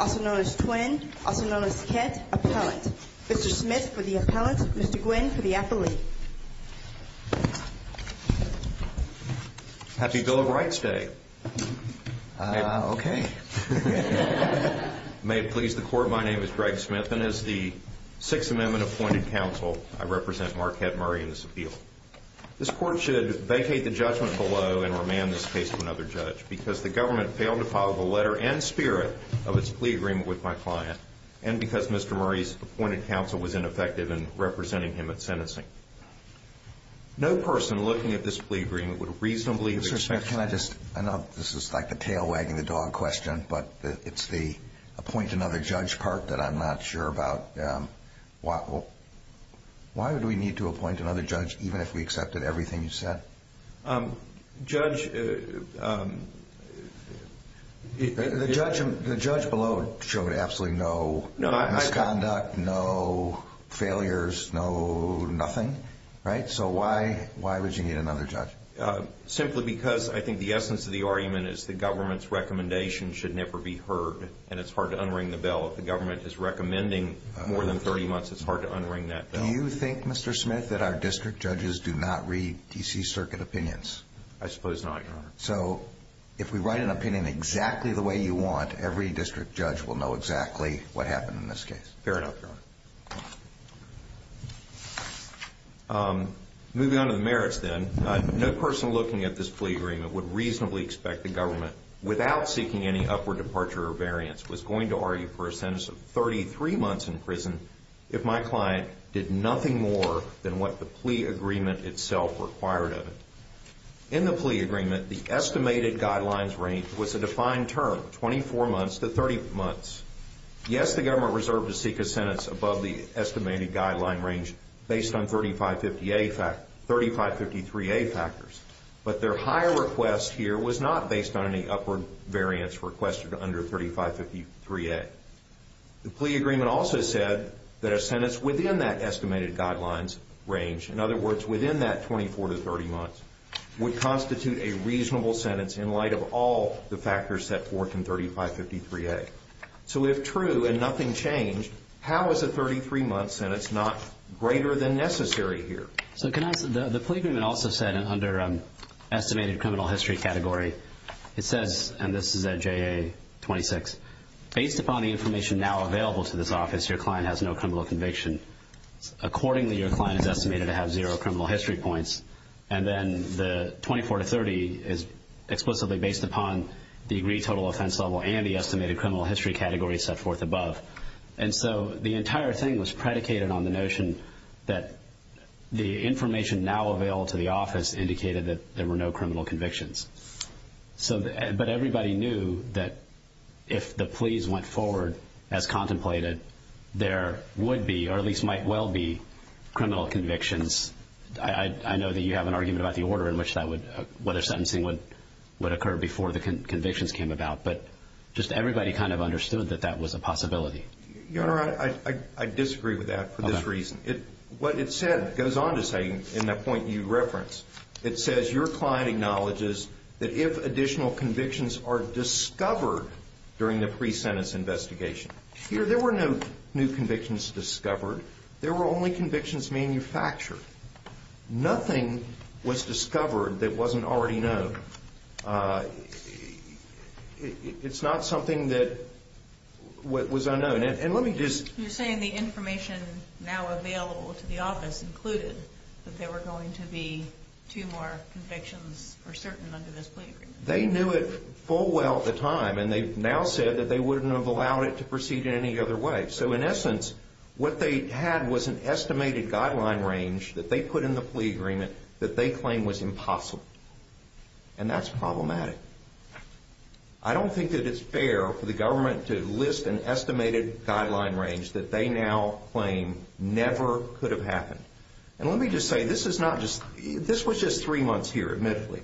also known as Twin, also known as Kett, Appellant. Mr. Smith for the Appellant, Mr. Gwynne for the Appellant. Happy Bill of Rights Day. Uh, okay. May it please the Court, my name is Greg Smith and as the Sixth Amendment Appointed Counsel, I represent Marquete Murray as a member of the Appellant Court. This Court should vacate the judgment below and remand this case to another judge because the government failed to follow the letter and spirit of its plea agreement with my client and because Mr. Murray's Appointed Counsel was ineffective in representing him at sentencing. No person looking at this plea agreement would reasonably expect... Even if we accepted everything you said? Um, judge, um... The judge below showed absolutely no misconduct, no failures, no nothing, right? So why would you need another judge? Simply because I think the essence of the argument is the government's recommendation should never be heard and it's hard to unring the bell. If the government is recommending more than 30 months, it's hard to unring that bell. Do you think, Mr. Smith, that our district judges do not read D.C. Circuit opinions? I suppose not, Your Honor. So, if we write an opinion exactly the way you want, every district judge will know exactly what happened in this case? Fair enough, Your Honor. Moving on to the merits, then. No person looking at this plea agreement would reasonably expect the government, without seeking any upward departure or variance, was going to argue for a sentence of 33 months in prison if my client did nothing more than what the plea agreement itself required of it. In the plea agreement, the estimated guidelines range was a defined term, 24 months to 30 months. Yes, the government reserved to seek a sentence above the estimated guideline range based on 3553A factors, but their higher request here was not based on any upward variance requested under 3553A. The plea agreement also said that a sentence within that estimated guidelines range, in other words, within that 24 to 30 months, would constitute a reasonable sentence in light of all the factors set forth in 3553A. So, if true and nothing changed, how is a 33-month sentence not greater than necessary here? So, the plea agreement also said, under estimated criminal history category, it says, and this is at JA 26, based upon the information now available to this office, your client has no criminal conviction. Accordingly, your client is estimated to have zero criminal history points, and then the 24 to 30 is explicitly based upon the agreed total offense level and the estimated criminal history category set forth above. And so, the entire thing was predicated on the notion that the information now available to the office indicated that there were no criminal convictions. But everybody knew that if the pleas went forward as contemplated, there would be, or at least might well be, criminal convictions. I know that you have an argument about the order in which that would, whether sentencing would occur before the convictions came about, but just everybody kind of understood that that was a possibility. Your Honor, I disagree with that for this reason. What it said, it goes on to say, in that point you referenced, it says, your client acknowledges that if additional convictions are discovered during the pre-sentence investigation, here, there were no new convictions discovered. There were only convictions manufactured. Nothing was discovered that wasn't already known. It's not something that was unknown. And let me just – You're saying the information now available to the office included that there were going to be two more convictions for certain under this plea agreement. They knew it full well at the time, and they've now said that they wouldn't have allowed it to proceed in any other way. So in essence, what they had was an estimated guideline range that they put in the plea agreement that they claim was impossible. And that's problematic. I don't think that it's fair for the government to list an estimated guideline range that they now claim never could have happened. And let me just say, this is not just – this was just three months here, admittedly.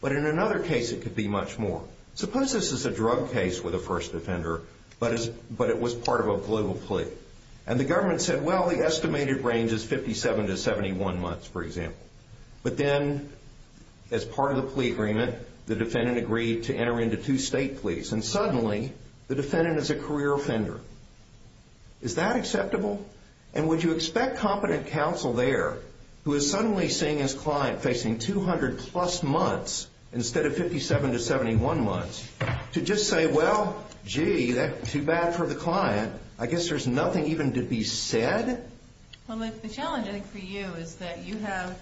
But in another case, it could be much more. Suppose this is a drug case with a first offender, but it was part of a global plea. And the government said, well, the estimated range is 57 to 71 months, for example. But then, as part of the plea agreement, the defendant agreed to enter into two state pleas. And suddenly, the defendant is a career offender. Is that acceptable? And would you expect competent counsel there, who is suddenly seeing his client facing 200-plus months instead of 57 to 71 months, to just say, well, gee, that's too bad for the client. I guess there's nothing even to be said? Well, the challenge, I think, for you is that you have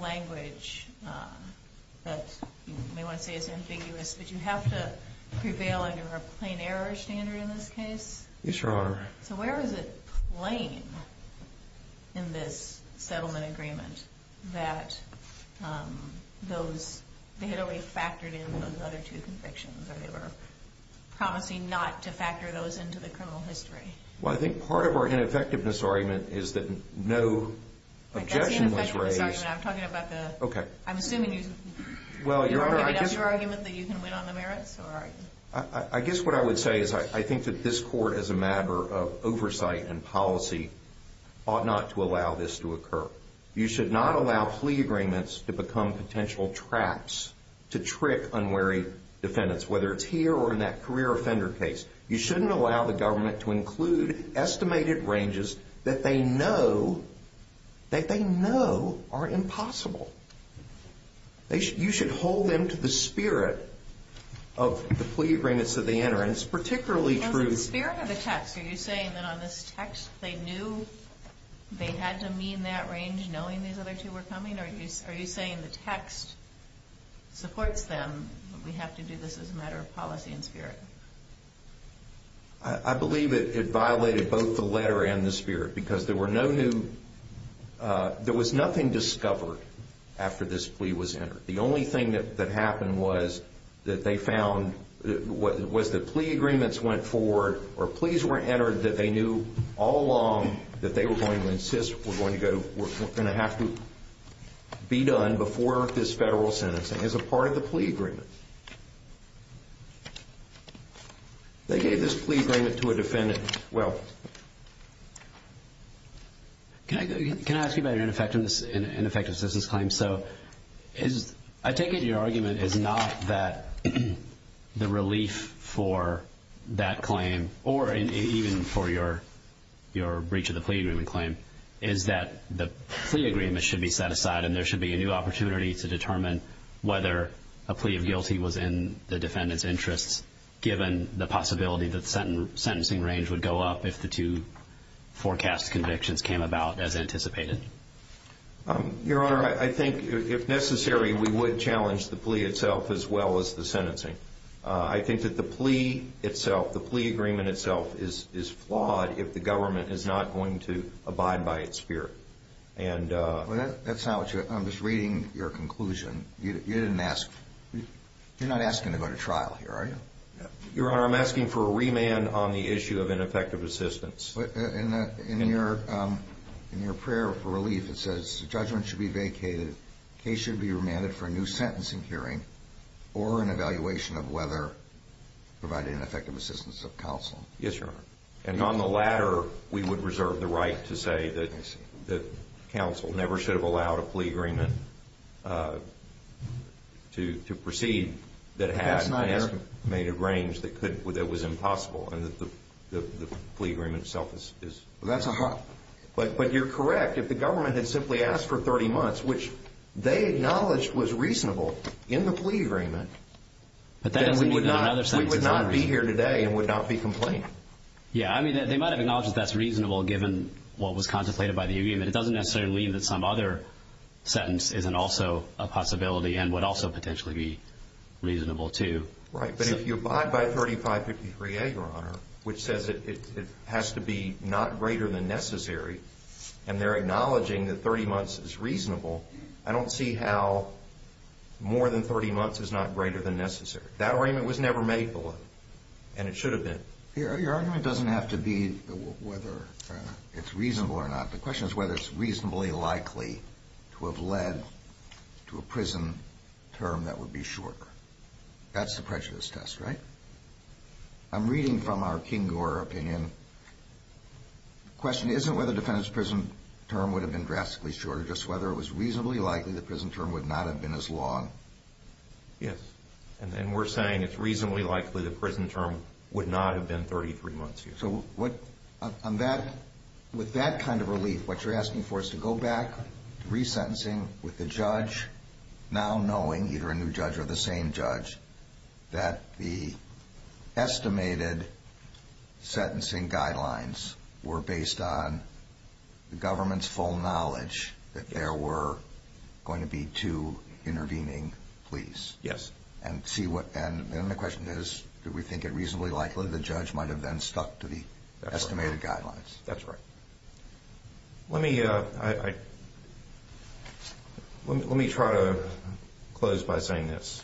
language that you may want to say is ambiguous, but you have to prevail under a plain error standard in this case. Yes, Your Honor. So where is it plain in this settlement agreement that those – they had already factored in those other two convictions, or they were promising not to factor those into the criminal history? Well, I think part of our ineffectiveness argument is that no objection was raised. That's the ineffectiveness argument. I'm talking about the – Okay. I'm assuming you're giving up your argument that you can win on the merits, or are you – I guess what I would say is I think that this Court, as a matter of oversight and policy, ought not to allow this to occur. You should not allow plea agreements to become potential traps to trick unwary defendants, whether it's here or in that career offender case. You shouldn't allow the government to include estimated ranges that they know are impossible. You should hold them to the spirit of the plea agreements that they enter. And it's particularly true – Is it the spirit or the text? Are you saying that on this text they knew they had to mean that range knowing these other two were coming, or are you saying the text supports them, but we have to do this as a matter of policy and spirit? I believe it violated both the letter and the spirit because there were no new – after this plea was entered. The only thing that happened was that they found was that plea agreements went forward or pleas were entered that they knew all along that they were going to insist, were going to have to be done before this federal sentencing as a part of the plea agreement. They gave this plea agreement to a defendant. Will. Can I ask you about your ineffectiveness in this claim? So I take it your argument is not that the relief for that claim, or even for your breach of the plea agreement claim, is that the plea agreement should be set aside and there should be a new opportunity to determine whether a plea of guilty was in the defendant's interests given the possibility that the sentencing range would go up if the two forecast convictions came about as anticipated? Your Honor, I think if necessary we would challenge the plea itself as well as the sentencing. I think that the plea itself, the plea agreement itself, is flawed if the government is not going to abide by its spirit. That's not what you're – I'm just reading your conclusion. You didn't ask – you're not asking to go to trial here, are you? Your Honor, I'm asking for a remand on the issue of ineffective assistance. In your prayer for relief it says, judgment should be vacated, case should be remanded for a new sentencing hearing or an evaluation of whether providing an effective assistance of counsel. Yes, Your Honor. And on the latter, we would reserve the right to say that counsel never should have allowed a plea agreement to proceed that had an estimated range that could – that was impossible and that the plea agreement itself is – Well, that's a – But you're correct. If the government had simply asked for 30 months, which they acknowledged was reasonable in the plea agreement, then we would not be here today and would not be complaining. Yeah, I mean, they might have acknowledged that that's reasonable given what was contemplated by the agreement. It doesn't necessarily mean that some other sentence isn't also a possibility and would also potentially be reasonable too. Right. But if you abide by 3553A, Your Honor, which says it has to be not greater than necessary and they're acknowledging that 30 months is reasonable, I don't see how more than 30 months is not greater than necessary. That arraignment was never made below, and it should have been. Your argument doesn't have to be whether it's reasonable or not. The question is whether it's reasonably likely to have led to a prison term that would be shorter. That's the prejudice test, right? I'm reading from our King Gore opinion. The question isn't whether the defendant's prison term would have been drastically shorter, just whether it was reasonably likely the prison term would not have been as long. Yes. And we're saying it's reasonably likely the prison term would not have been 33 months. So with that kind of relief, what you're asking for is to go back to resentencing with the judge now knowing, either a new judge or the same judge, that the estimated sentencing guidelines were based on the government's full knowledge that there were going to be two intervening police. Yes. And the question is, do we think it reasonably likely the judge might have then stuck to the estimated guidelines? That's right. Let me try to close by saying this.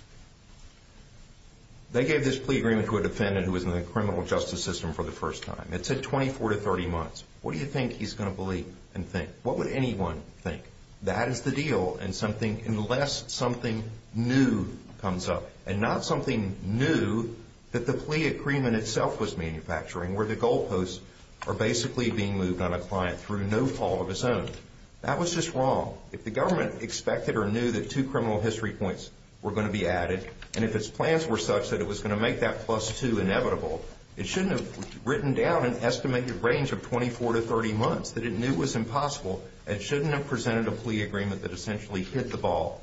They gave this plea agreement to a defendant who was in the criminal justice system for the first time. It said 24 to 30 months. What do you think he's going to believe and think? What would anyone think? That is the deal, unless something new comes up, and not something new that the plea agreement itself was manufacturing, where the goal posts are basically being moved on a client through no fault of his own. That was just wrong. If the government expected or knew that two criminal history points were going to be added, and if its plans were such that it was going to make that plus two inevitable, it shouldn't have written down an estimated range of 24 to 30 months that it knew was impossible. It shouldn't have presented a plea agreement that essentially hit the ball.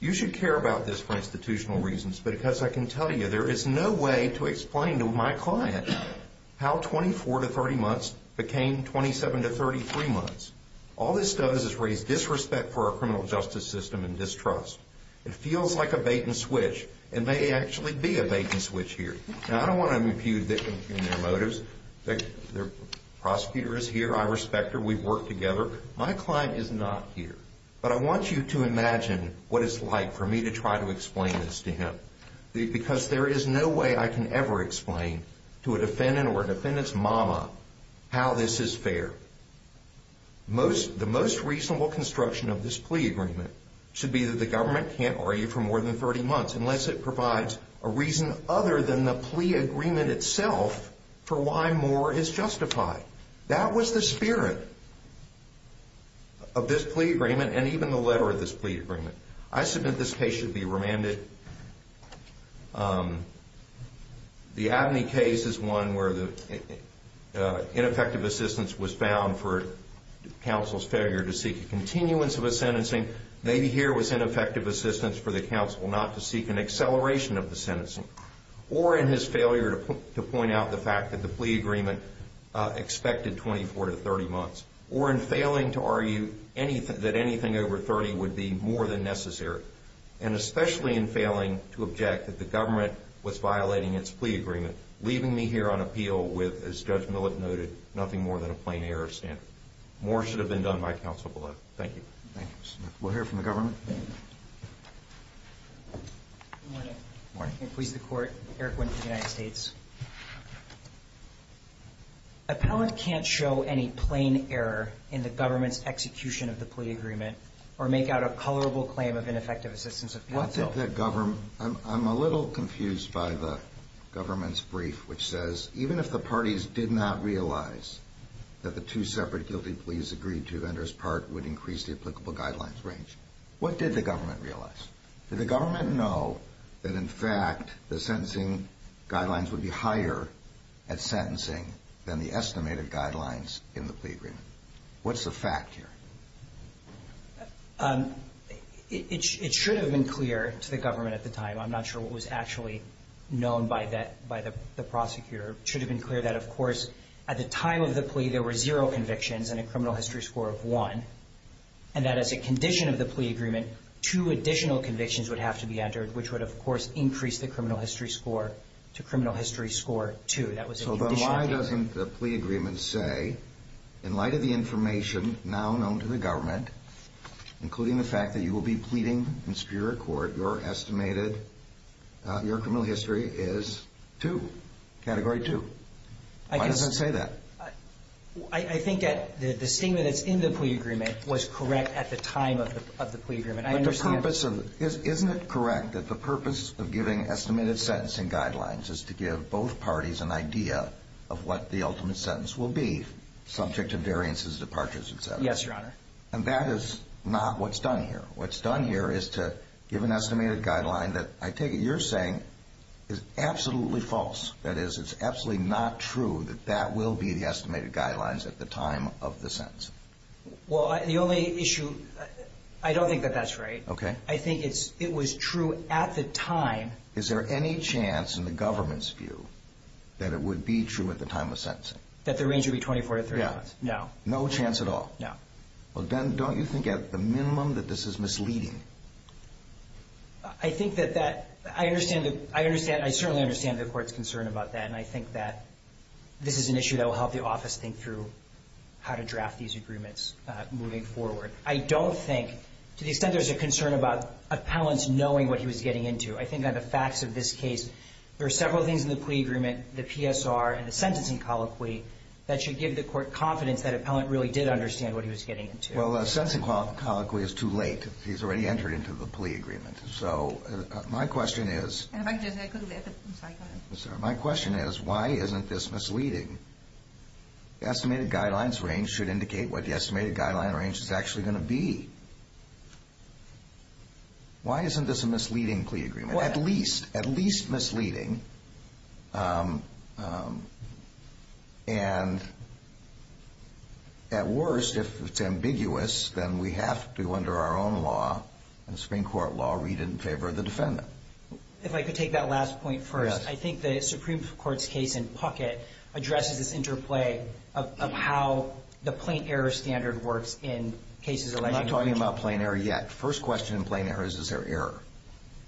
You should care about this for institutional reasons, because I can tell you there is no way to explain to my client how 24 to 30 months became 27 to 33 months. All this does is raise disrespect for our criminal justice system and distrust. It feels like a bait and switch, and may actually be a bait and switch here. Now, I don't want to impugn their motives. The prosecutor is here. I respect her. We've worked together. My client is not here. But I want you to imagine what it's like for me to try to explain this to him, because there is no way I can ever explain to a defendant or a defendant's mama how this is fair. The most reasonable construction of this plea agreement should be that the government can't argue for more than 30 months unless it provides a reason other than the plea agreement itself for why more is justified. That was the spirit of this plea agreement and even the letter of this plea agreement. I submit this case should be remanded. The Abney case is one where ineffective assistance was found for counsel's failure to seek a continuance of a sentencing. Maybe here was ineffective assistance for the counsel not to seek an acceleration of the sentencing or in his failure to point out the fact that the plea agreement expected 24 to 30 months or in failing to argue that anything over 30 would be more than necessary and especially in failing to object that the government was violating its plea agreement, leaving me here on appeal with, as Judge Millett noted, nothing more than a plain error standard. More should have been done by counsel below. Thank you. We'll hear from the government. Good morning. Good morning. I'm going to please the Court. Eric Wynne for the United States. Appellant can't show any plain error in the government's execution of the plea agreement or make out a colorable claim of ineffective assistance of counsel. I'm a little confused by the government's brief which says, even if the parties did not realize that the two separate guilty pleas agreed to would increase the applicable guidelines range. What did the government realize? Did the government know that, in fact, the sentencing guidelines would be higher at sentencing than the estimated guidelines in the plea agreement? What's the fact here? It should have been clear to the government at the time. I'm not sure what was actually known by the prosecutor. It should have been clear that, of course, at the time of the plea there were zero convictions and a criminal history score of one, and that as a condition of the plea agreement, two additional convictions would have to be entered, which would, of course, increase the criminal history score to criminal history score two. So then why doesn't the plea agreement say, in light of the information now known to the government, including the fact that you will be pleading in superior court, your estimated criminal history is two, category two. Why does it say that? I think that the statement that's in the plea agreement was correct at the time of the plea agreement. Isn't it correct that the purpose of giving estimated sentencing guidelines is to give both parties an idea of what the ultimate sentence will be subject to variances, departures, et cetera? Yes, Your Honor. And that is not what's done here. What's done here is to give an estimated guideline that I take it you're saying is absolutely false. That is, it's absolutely not true that that will be the estimated guidelines at the time of the sentencing. Well, the only issue, I don't think that that's right. Okay. I think it was true at the time. Is there any chance in the government's view that it would be true at the time of sentencing? That the range would be 24 to 30 months? Yeah. No. No chance at all? No. Well, then don't you think at the minimum that this is misleading? I think that that, I understand, I certainly understand the Court's concern about that, and I think that this is an issue that will help the office think through how to draft these agreements moving forward. I don't think, to the extent there's a concern about appellants knowing what he was getting into, I think that the facts of this case, there are several things in the plea agreement, the PSR and the sentencing colloquy, that should give the Court confidence that appellant really did understand what he was getting into. Well, the sentencing colloquy is too late. He's already entered into the plea agreement. So my question is why isn't this misleading? Estimated guidelines range should indicate what the estimated guideline range is actually going to be. Why isn't this a misleading plea agreement? At least, at least misleading. And at worst, if it's ambiguous, then we have to, under our own law, in the Supreme Court law, read it in favor of the defendant. If I could take that last point first. Yes. I think the Supreme Court's case in Puckett addresses this interplay of how the plain error standard works in cases. We're not talking about plain error yet. First question in plain error is, is there error?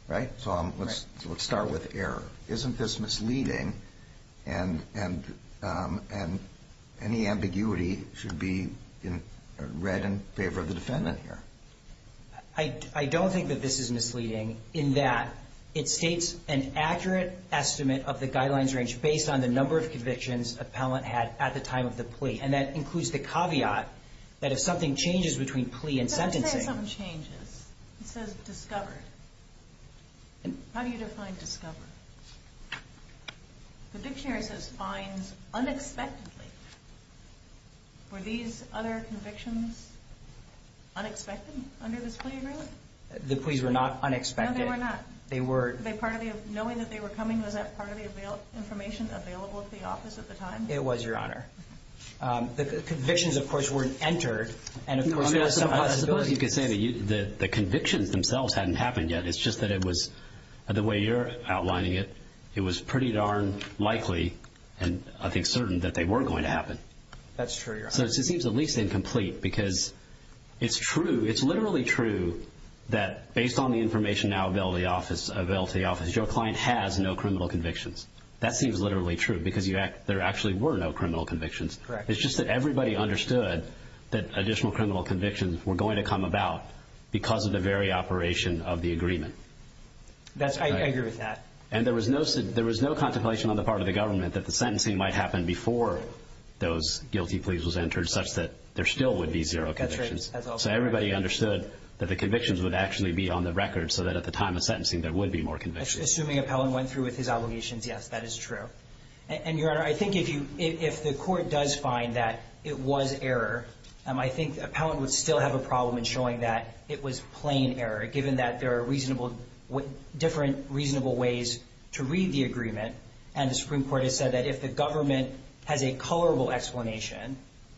Right? So let's start with error. Isn't this misleading? And any ambiguity should be read in favor of the defendant here. I don't think that this is misleading in that it states an accurate estimate of the guidelines range based on the number of convictions appellant had at the time of the plea. And that includes the caveat that if something changes between plea and sentencing. How do you say something changes? It says discovered. How do you define discovered? The dictionary says finds unexpectedly. Were these other convictions unexpected under this plea agreement? The pleas were not unexpected. No, they were not. They were. Knowing that they were coming, was that part of the information available at the office at the time? It was, Your Honor. The convictions, of course, weren't entered. I suppose you could say the convictions themselves hadn't happened yet. It's just that it was, the way you're outlining it, it was pretty darn likely, and I think certain, that they were going to happen. That's true, Your Honor. So it seems at least incomplete because it's true, it's literally true, that based on the information now available to the office, your client has no criminal convictions. That seems literally true because there actually were no criminal convictions. Correct. It's just that everybody understood that additional criminal convictions were going to come about because of the very operation of the agreement. I agree with that. And there was no contemplation on the part of the government that the sentencing might happen before those guilty pleas was entered such that there still would be zero convictions. That's right. So everybody understood that the convictions would actually be on the record so that at the time of sentencing there would be more convictions. Assuming Appellant went through with his obligations, yes, that is true. And, Your Honor, I think if the court does find that it was error, I think Appellant would still have a problem in showing that it was plain error given that there are different reasonable ways to read the agreement, and the Supreme Court has said that if the government has a colorable explanation,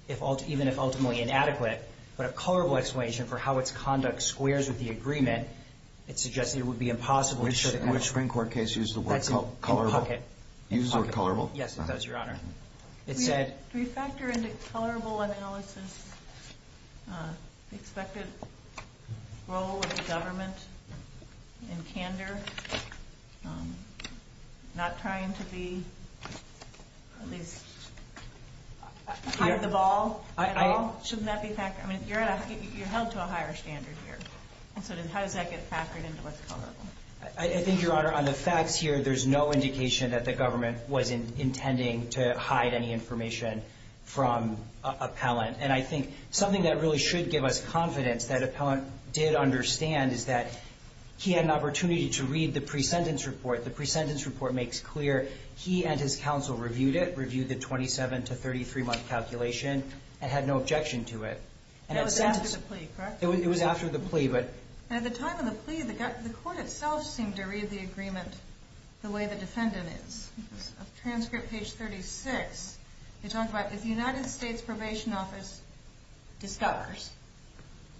even if ultimately inadequate, but a colorable explanation for how its conduct squares with the agreement, it suggests that it would be impossible to show that. Which Supreme Court case used the word colorable? Used the word colorable? Yes, it does, Your Honor. Do we factor into colorable analysis the expected role of the government in candor, not trying to be at least ahead of the ball at all? Shouldn't that be factored? You're held to a higher standard here. So how does that get factored into what's colorable? I think, Your Honor, on the facts here, there's no indication that the government was intending to hide any information from Appellant. And I think something that really should give us confidence that Appellant did understand is that he had an opportunity to read the pre-sentence report. The pre-sentence report makes clear he and his counsel reviewed it, reviewed the 27- to 33-month calculation, and had no objection to it. It was after the plea, correct? It was after the plea. And at the time of the plea, the court itself seemed to read the agreement the way the defendant is. Transcript page 36, you talk about if the United States Probation Office discovers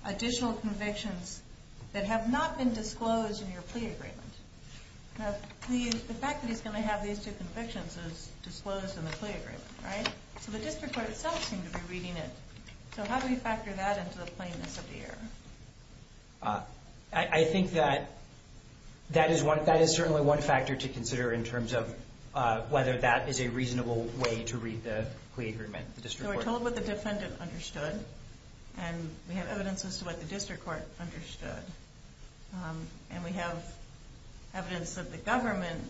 additional convictions that have not been disclosed in your plea agreement. Now, the fact that he's going to have these two convictions is disclosed in the plea agreement, right? So the district court itself seemed to be reading it. So how do we factor that into the plainness of the error? I think that that is certainly one factor to consider in terms of whether that is a reasonable way to read the plea agreement. So we're told what the defendant understood, and we have evidence as to what the district court understood. And we have evidence that the government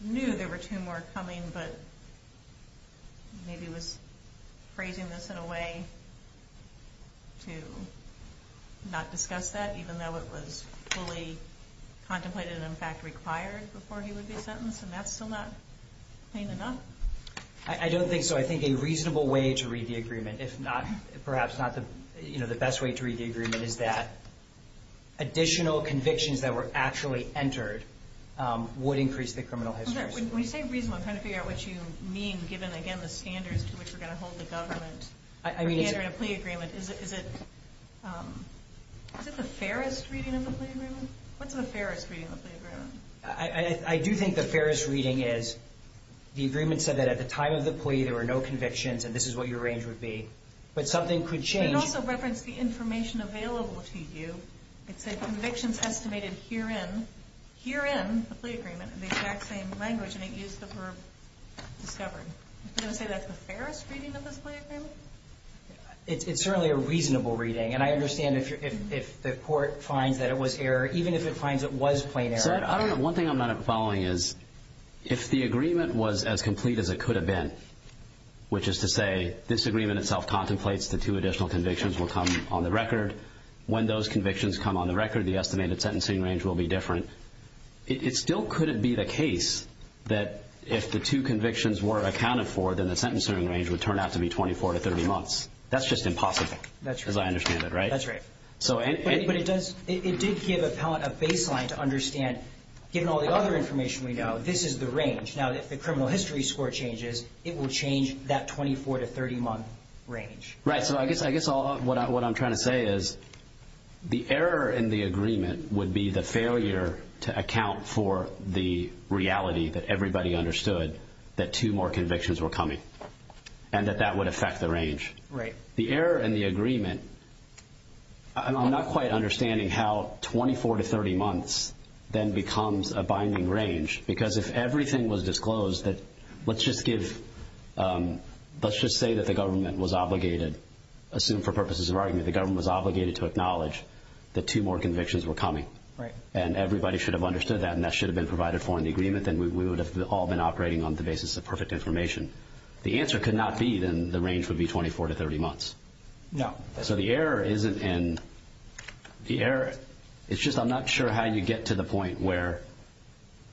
knew there were two more coming, but maybe was phrasing this in a way to not discuss that, even though it was fully contemplated and, in fact, required before he would be sentenced, and that's still not plain enough. I don't think so. I think a reasonable way to read the agreement, perhaps not the best way to read the agreement, is that additional convictions that were actually entered would increase the criminal history. When you say reasonable, I'm trying to figure out what you mean given, again, the standards to which we're going to hold the government for entering a plea agreement. Is it the fairest reading of the plea agreement? What's the fairest reading of the plea agreement? I do think the fairest reading is the agreement said that at the time of the plea there were no convictions and this is what your range would be. But something could change. It also referenced the information available to you. It said convictions estimated herein, herein, the plea agreement, in the exact same language, and it used the verb discovered. Are you going to say that's the fairest reading of this plea agreement? It's certainly a reasonable reading, and I understand if the court finds that it was error, even if it finds it was plain error. I don't know. One thing I'm not following is if the agreement was as complete as it could have been, which is to say this agreement itself contemplates the two additional convictions will come on the record. When those convictions come on the record, the estimated sentencing range will be different. It still couldn't be the case that if the two convictions were accounted for, then the sentencing range would turn out to be 24 to 30 months. That's just impossible as I understand it, right? That's right. But it did give appellant a baseline to understand, given all the other information we know, this is the range. Now, if the criminal history score changes, it will change that 24 to 30-month range. So I guess what I'm trying to say is the error in the agreement would be the failure to account for the reality that everybody understood that two more convictions were coming and that that would affect the range. The error in the agreement, I'm not quite understanding how 24 to 30 months then becomes a binding range because if everything was disclosed that let's just say that the government was obligated, assume for purposes of argument, the government was obligated to acknowledge that two more convictions were coming and everybody should have understood that and that should have been provided for in the agreement then we would have all been operating on the basis of perfect information. The answer could not be then the range would be 24 to 30 months. No. So the error isn't in the error. It's just I'm not sure how you get to the point where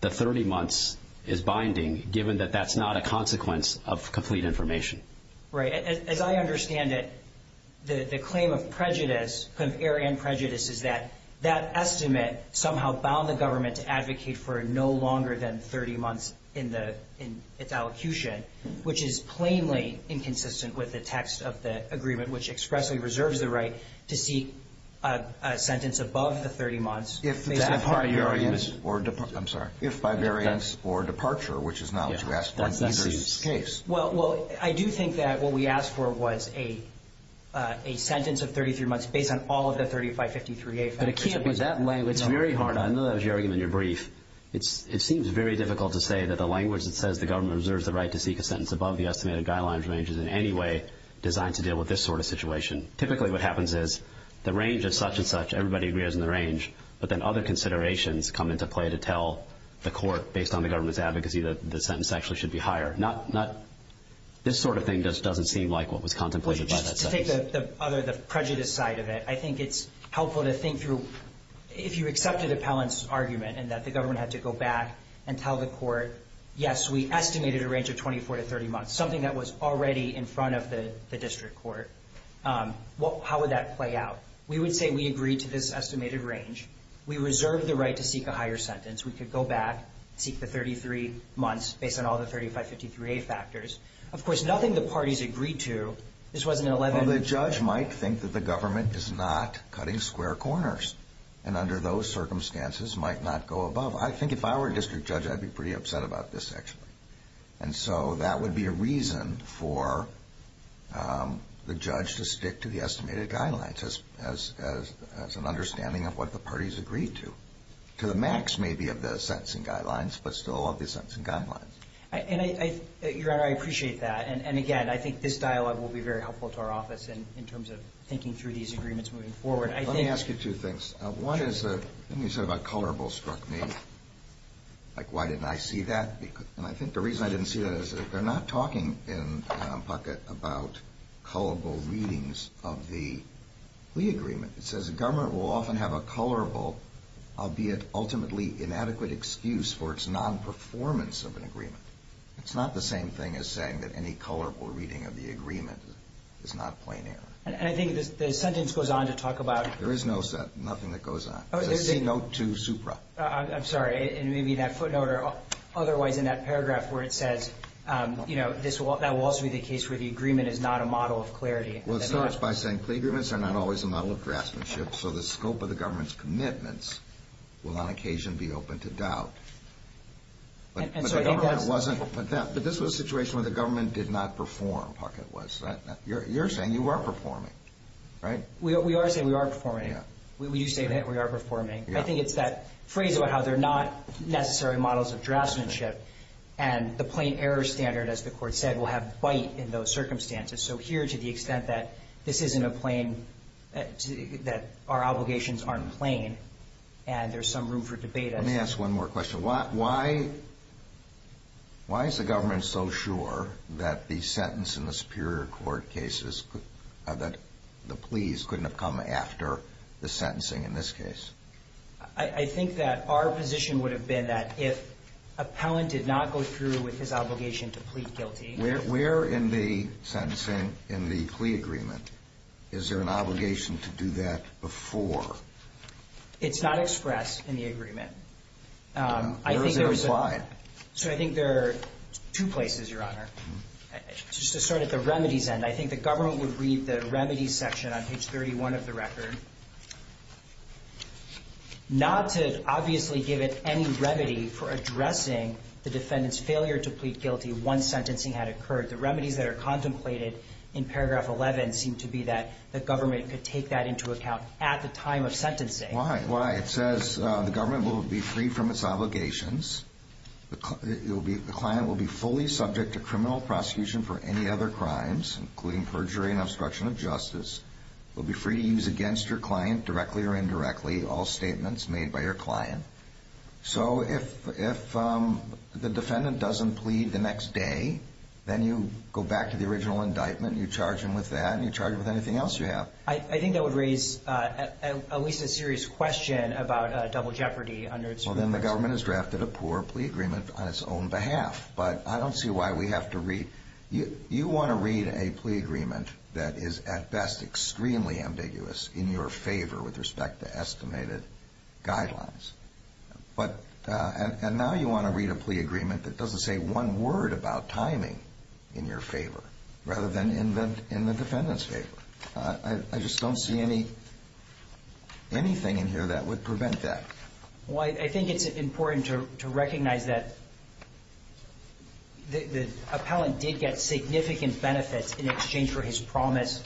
the 30 months is binding given that that's not a consequence of complete information. Right. As I understand it, the claim of prejudice, of error and prejudice is that that estimate somehow bound the government to advocate for no longer than 30 months in its allocution, which is plainly inconsistent with the text of the agreement which expressly reserves the right to seek a sentence above the 30 months. If by variance or departure, I'm sorry. If by variance or departure, which is not what you asked for, in either case. Well, I do think that what we asked for was a sentence of 33 months based on all of the 3553A factors. But it can't be that way. It's very hard. I know that was your argument in your brief. It seems very difficult to say that the language that says the government reserves the right to seek a sentence above the estimated guidelines range is in any way designed to deal with this sort of situation. Typically what happens is the range is such and such. Everybody agrees on the range, but then other considerations come into play to tell the court based on the government's advocacy that the sentence actually should be higher, not this sort of thing doesn't seem like what was contemplated by that sentence. Well, just to take the prejudice side of it, I think it's helpful to think through if you accepted Appellant's argument and that the government had to go back and tell the court, yes, we estimated a range of 24 to 30 months, something that was already in front of the district court, how would that play out? We would say we agree to this estimated range. We reserve the right to seek a higher sentence. We could go back, seek the 33 months based on all the 3553A factors. Of course, nothing the parties agreed to. This wasn't an 11- Well, the judge might think that the government is not cutting square corners and under those circumstances might not go above. I think if I were a district judge, I'd be pretty upset about this actually. And so that would be a reason for the judge to stick to the estimated guidelines as an understanding of what the parties agreed to. To the max, maybe, of the sentencing guidelines, but still of the sentencing guidelines. Your Honor, I appreciate that. And, again, I think this dialogue will be very helpful to our office in terms of thinking through these agreements moving forward. Let me ask you two things. One is the thing you said about colorables struck me. Like, why didn't I see that? And I think the reason I didn't see that is they're not talking in Puckett about colorable readings of the plea agreement. It says the government will often have a colorable, albeit ultimately inadequate, excuse for its non-performance of an agreement. It's not the same thing as saying that any colorable reading of the agreement is not plain error. And I think the sentence goes on to talk about- There is no sentence. Nothing that goes on. It's a C note to Supra. I'm sorry. And maybe that footnote or otherwise in that paragraph where it says, you know, that will also be the case where the agreement is not a model of clarity. Well, it starts by saying plea agreements are not always a model of draftsmanship, so the scope of the government's commitments will on occasion be open to doubt. But this was a situation where the government did not perform, Puckett was. You're saying you are performing, right? We are saying we are performing. We do say that we are performing. I think it's that phrase about how they're not necessary models of draftsmanship and the plain error standard, as the Court said, will have bite in those circumstances. So here, to the extent that this isn't a plain-that our obligations aren't plain and there's some room for debate- Let me ask one more question. Why is the government so sure that the sentence in the Superior Court cases, that the pleas couldn't have come after the sentencing in this case? I think that our position would have been that if appellant did not go through with his obligation to plead guilty- Where in the sentencing, in the plea agreement, is there an obligation to do that before? It's not expressed in the agreement. Where is it applied? I think there are two places, Your Honor. Just to start at the remedies end, I think the government would read the remedies section on page 31 of the record, not to obviously give it any remedy for addressing the defendant's failure to plead guilty once sentencing had occurred. The remedies that are contemplated in paragraph 11 seem to be that the government could take that into account at the time of sentencing. Why? Why? It says the government will be free from its obligations. The client will be fully subject to criminal prosecution for any other crimes, including perjury and obstruction of justice. You'll be free to use against your client, directly or indirectly, all statements made by your client. So if the defendant doesn't plead the next day, then you go back to the original indictment, you charge him with that, and you charge him with anything else you have. I think that would raise at least a serious question about double jeopardy under its- Well, then the government has drafted a poor plea agreement on its own behalf. But I don't see why we have to read- You want to read a plea agreement that is, at best, extremely ambiguous in your favor with respect to estimated guidelines. And now you want to read a plea agreement that doesn't say one word about timing in your favor, rather than in the defendant's favor. I just don't see anything in here that would prevent that. Well, I think it's important to recognize that the appellant did get significant benefits in exchange for his promise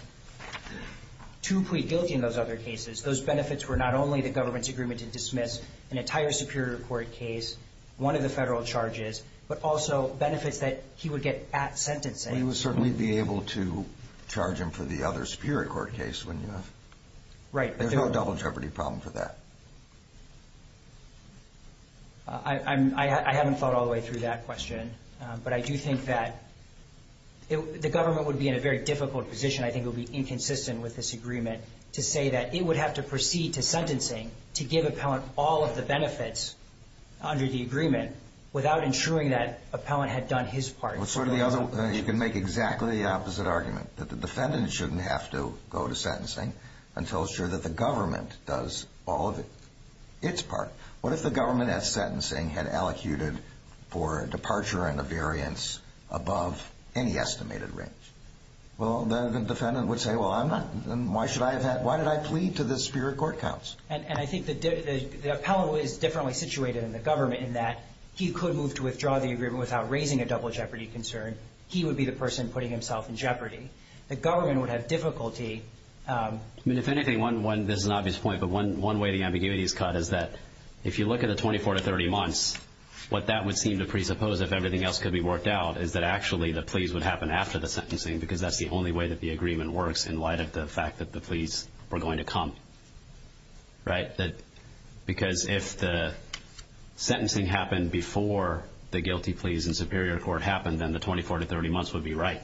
to plead guilty in those other cases. Those benefits were not only the government's agreement to dismiss an entire Superior Court case, one of the federal charges, but also benefits that he would get at sentencing. Well, you would certainly be able to charge him for the other Superior Court case when you have- Right. There's no double jeopardy problem for that. I haven't thought all the way through that question. But I do think that the government would be in a very difficult position, I think it would be inconsistent with this agreement, to say that it would have to proceed to sentencing to give appellant all of the benefits under the agreement without ensuring that appellant had done his part. You can make exactly the opposite argument, that the defendant shouldn't have to go to sentencing until it's sure that the government does all of its part. What if the government, at sentencing, had allocated for departure and a variance above any estimated range? Well, then the defendant would say, well, I'm not- why should I have had- why did I plead to this Superior Court counsel? And I think the appellant is differently situated than the government in that he could move to withdraw the agreement without raising a double jeopardy concern. He would be the person putting himself in jeopardy. The government would have difficulty- I mean, if anything, one- this is an obvious point, but one way the ambiguity is cut is that if you look at the 24 to 30 months, what that would seem to presuppose, if everything else could be worked out, is that actually the pleas would happen after the sentencing because that's the only way that the agreement works in light of the fact that the pleas were going to come. Right? Because if the sentencing happened before the guilty pleas in Superior Court happened, then the 24 to 30 months would be right.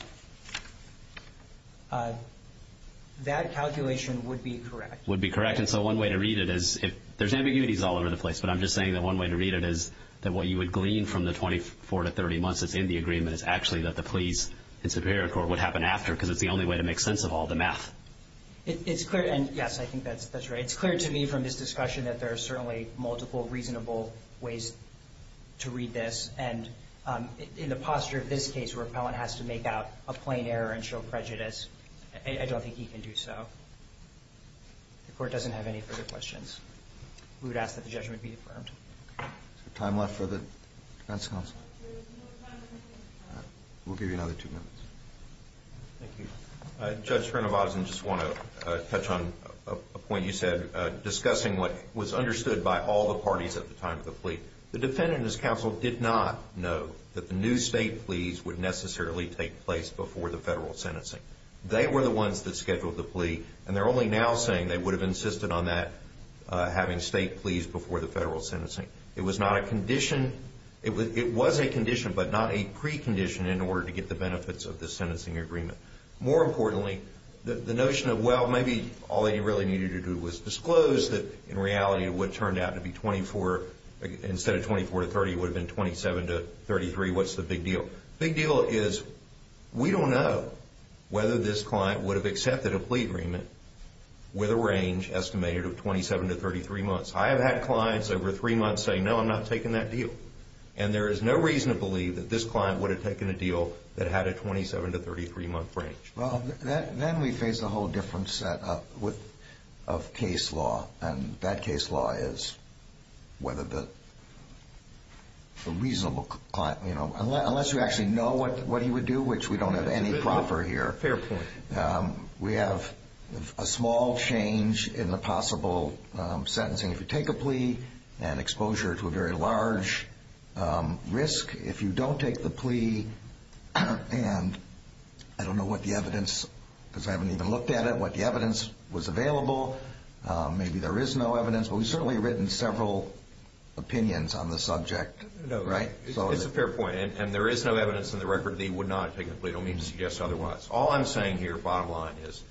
That calculation would be correct. Would be correct. And so one way to read it is if- there's ambiguities all over the place, but I'm just saying that one way to read it is that what you would glean from the 24 to 30 months that's in the agreement is actually that the pleas in Superior Court would happen after because it's the only way to make sense of all the math. It's clear- and, yes, I think that's right. It's clear to me from this discussion that there are certainly multiple reasonable ways to read this. And in the posture of this case, where an appellant has to make out a plain error and show prejudice, I don't think he can do so. If the Court doesn't have any further questions, we would ask that the judgment be affirmed. Is there time left for the defense counsel? There is no time left for the defense counsel. We'll give you another two minutes. Thank you. Judge Srinivasan, I just want to touch on a point you said, discussing what was understood by all the parties at the time of the plea. The defendant and his counsel did not know that the new state pleas would necessarily take place before the federal sentencing. They were the ones that scheduled the plea, and they're only now saying they would have insisted on that, having state pleas before the federal sentencing. It was not a condition. It was a condition, but not a precondition, in order to get the benefits of the sentencing agreement. More importantly, the notion of, well, maybe all that you really needed to do was disclose that, in reality, it would have turned out to be 24. Instead of 24 to 30, it would have been 27 to 33. What's the big deal? The big deal is we don't know whether this client would have accepted a plea agreement with a range estimated of 27 to 33 months. I have had clients over three months say, no, I'm not taking that deal. And there is no reason to believe that this client would have taken a deal that had a 27 to 33-month range. Well, then we face a whole different set of case law, and that case law is whether the reasonable client, you know, unless you actually know what he would do, which we don't have any proper here. Fair point. We have a small change in the possible sentencing. If you take a plea and exposure to a very large risk, if you don't take the plea and I don't know what the evidence, because I haven't even looked at it, what the evidence was available, maybe there is no evidence, but we've certainly written several opinions on the subject. No, it's a fair point, and there is no evidence in the record that he would not have taken a plea. I don't mean to suggest otherwise. All I'm saying here, bottom line, is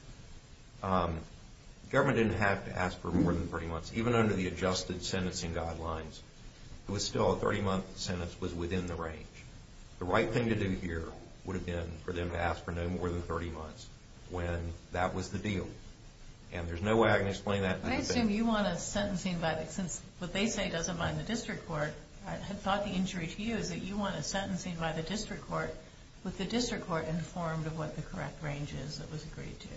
government didn't have to ask for more than 30 months. Even under the adjusted sentencing guidelines, it was still a 30-month sentence was within the range. The right thing to do here would have been for them to ask for no more than 30 months when that was the deal, and there's no way I can explain that. I assume you want a sentencing by the, since what they say doesn't bind the district court, I thought the injury to you is that you want a sentencing by the district court with the district court informed of what the correct range is that was agreed to.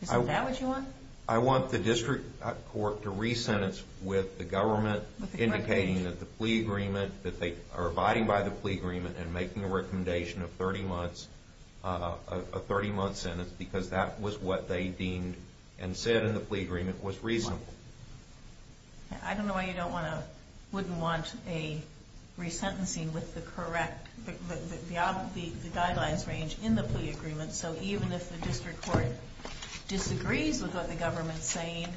Is that what you want? I want the district court to resentence with the government indicating that the plea agreement, that they are abiding by the plea agreement and making a recommendation of 30 months, a 30-month sentence, because that was what they deemed and said in the plea agreement was reasonable. I don't know why you don't want to, wouldn't want a resentencing with the correct, the guidelines range in the plea agreement, so even if the district court disagrees with what the government is saying,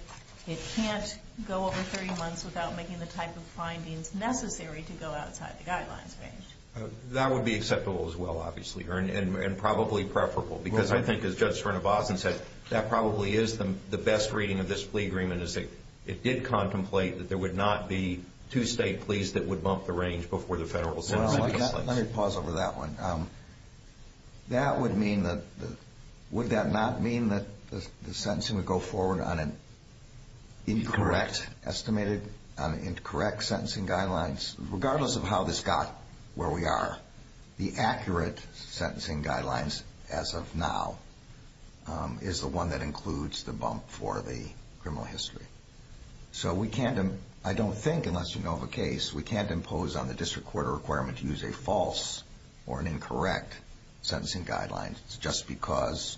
it can't go over 30 months without making the type of findings necessary to go outside the guidelines range. That would be acceptable as well, obviously, and probably preferable because I think, as Judge Srinivasan said, that probably is the best reading of this plea agreement is that it did contemplate that there would not be two state pleas that would bump the range before the federal sentencing was laid. Let me pause over that one. That would mean that, would that not mean that the sentencing would go forward on an incorrect, estimated, incorrect sentencing guidelines? Regardless of how this got where we are, the accurate sentencing guidelines as of now is the one that includes the bump for the criminal history. So we can't, I don't think, unless you know of a case, we can't impose on the district court a requirement to use a false or an incorrect sentencing guideline just because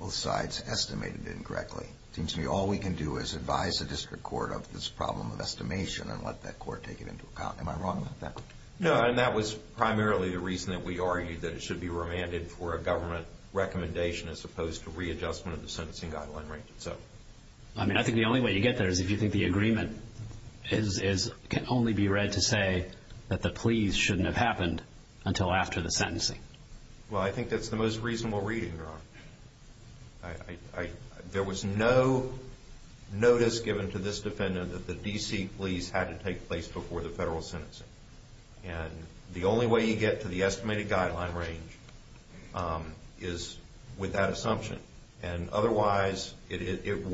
both sides estimated it incorrectly. It seems to me all we can do is advise the district court of this problem of estimation and let that court take it into account. Am I wrong about that? No, and that was primarily the reason that we argued that it should be remanded for a government recommendation as opposed to readjustment of the sentencing guideline range itself. I mean, I think the only way you get there is if you think the agreement can only be read to say that the pleas shouldn't have happened until after the sentencing. Well, I think that's the most reasonable reading, Your Honor. There was no notice given to this defendant that the D.C. pleas had to take place before the federal sentencing. The only way you get to the estimated guideline range is with that assumption. Otherwise, if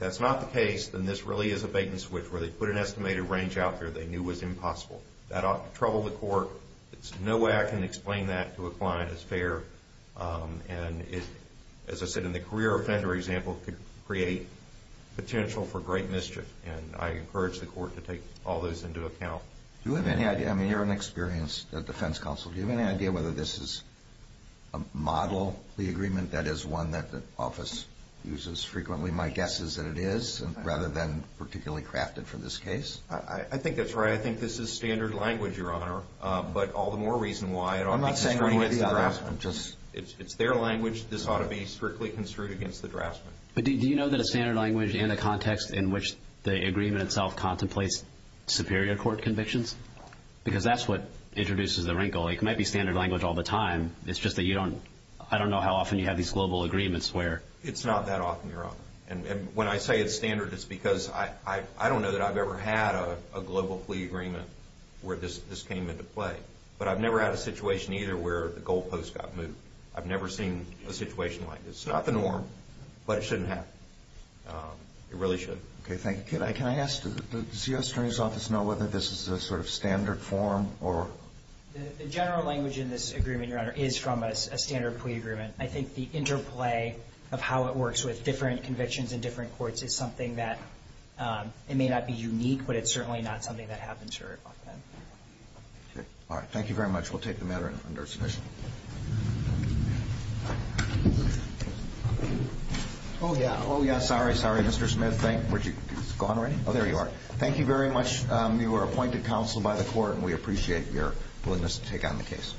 that's not the case, then this really is a bait-and-switch where they put an estimated range out there they knew was impossible. That ought to trouble the court. There's no way I can explain that to a client as fair. As I said, in the career offender example, it could create potential for great mischief, and I encourage the court to take all those into account. Do you have any idea? I mean, you're an experienced defense counsel. Do you have any idea whether this is a model plea agreement, that is one that the office uses frequently, my guess is that it is, rather than particularly crafted for this case? I think that's right. I think this is standard language, Your Honor, but all the more reason why it ought to be strictly against the draftsman. It's their language. This ought to be strictly construed against the draftsman. But do you know that a standard language and a context in which the agreement itself contemplates superior court convictions? Because that's what introduces the wrinkle. It might be standard language all the time. It's just that I don't know how often you have these global agreements where... It's not that often, Your Honor. And when I say it's standard, it's because I don't know that I've ever had a global plea agreement where this came into play. But I've never had a situation either where the goalpost got moved. I've never seen a situation like this. It's not the norm, but it shouldn't happen. It really shouldn't. Okay, thank you. Can I ask, does the U.S. Attorney's Office know whether this is a sort of standard form or... The general language in this agreement, Your Honor, is from a standard plea agreement. I think the interplay of how it works with different convictions in different courts is something that, it may not be unique, but it's certainly not something that happens very often. Okay. All right. Thank you very much. We'll take the matter under submission. Oh, yeah. Oh, yeah. Sorry, sorry, Mr. Smith. He's gone already? Oh, there you are. Thank you very much. You were appointed counsel by the court, and we appreciate your willingness to take on the case.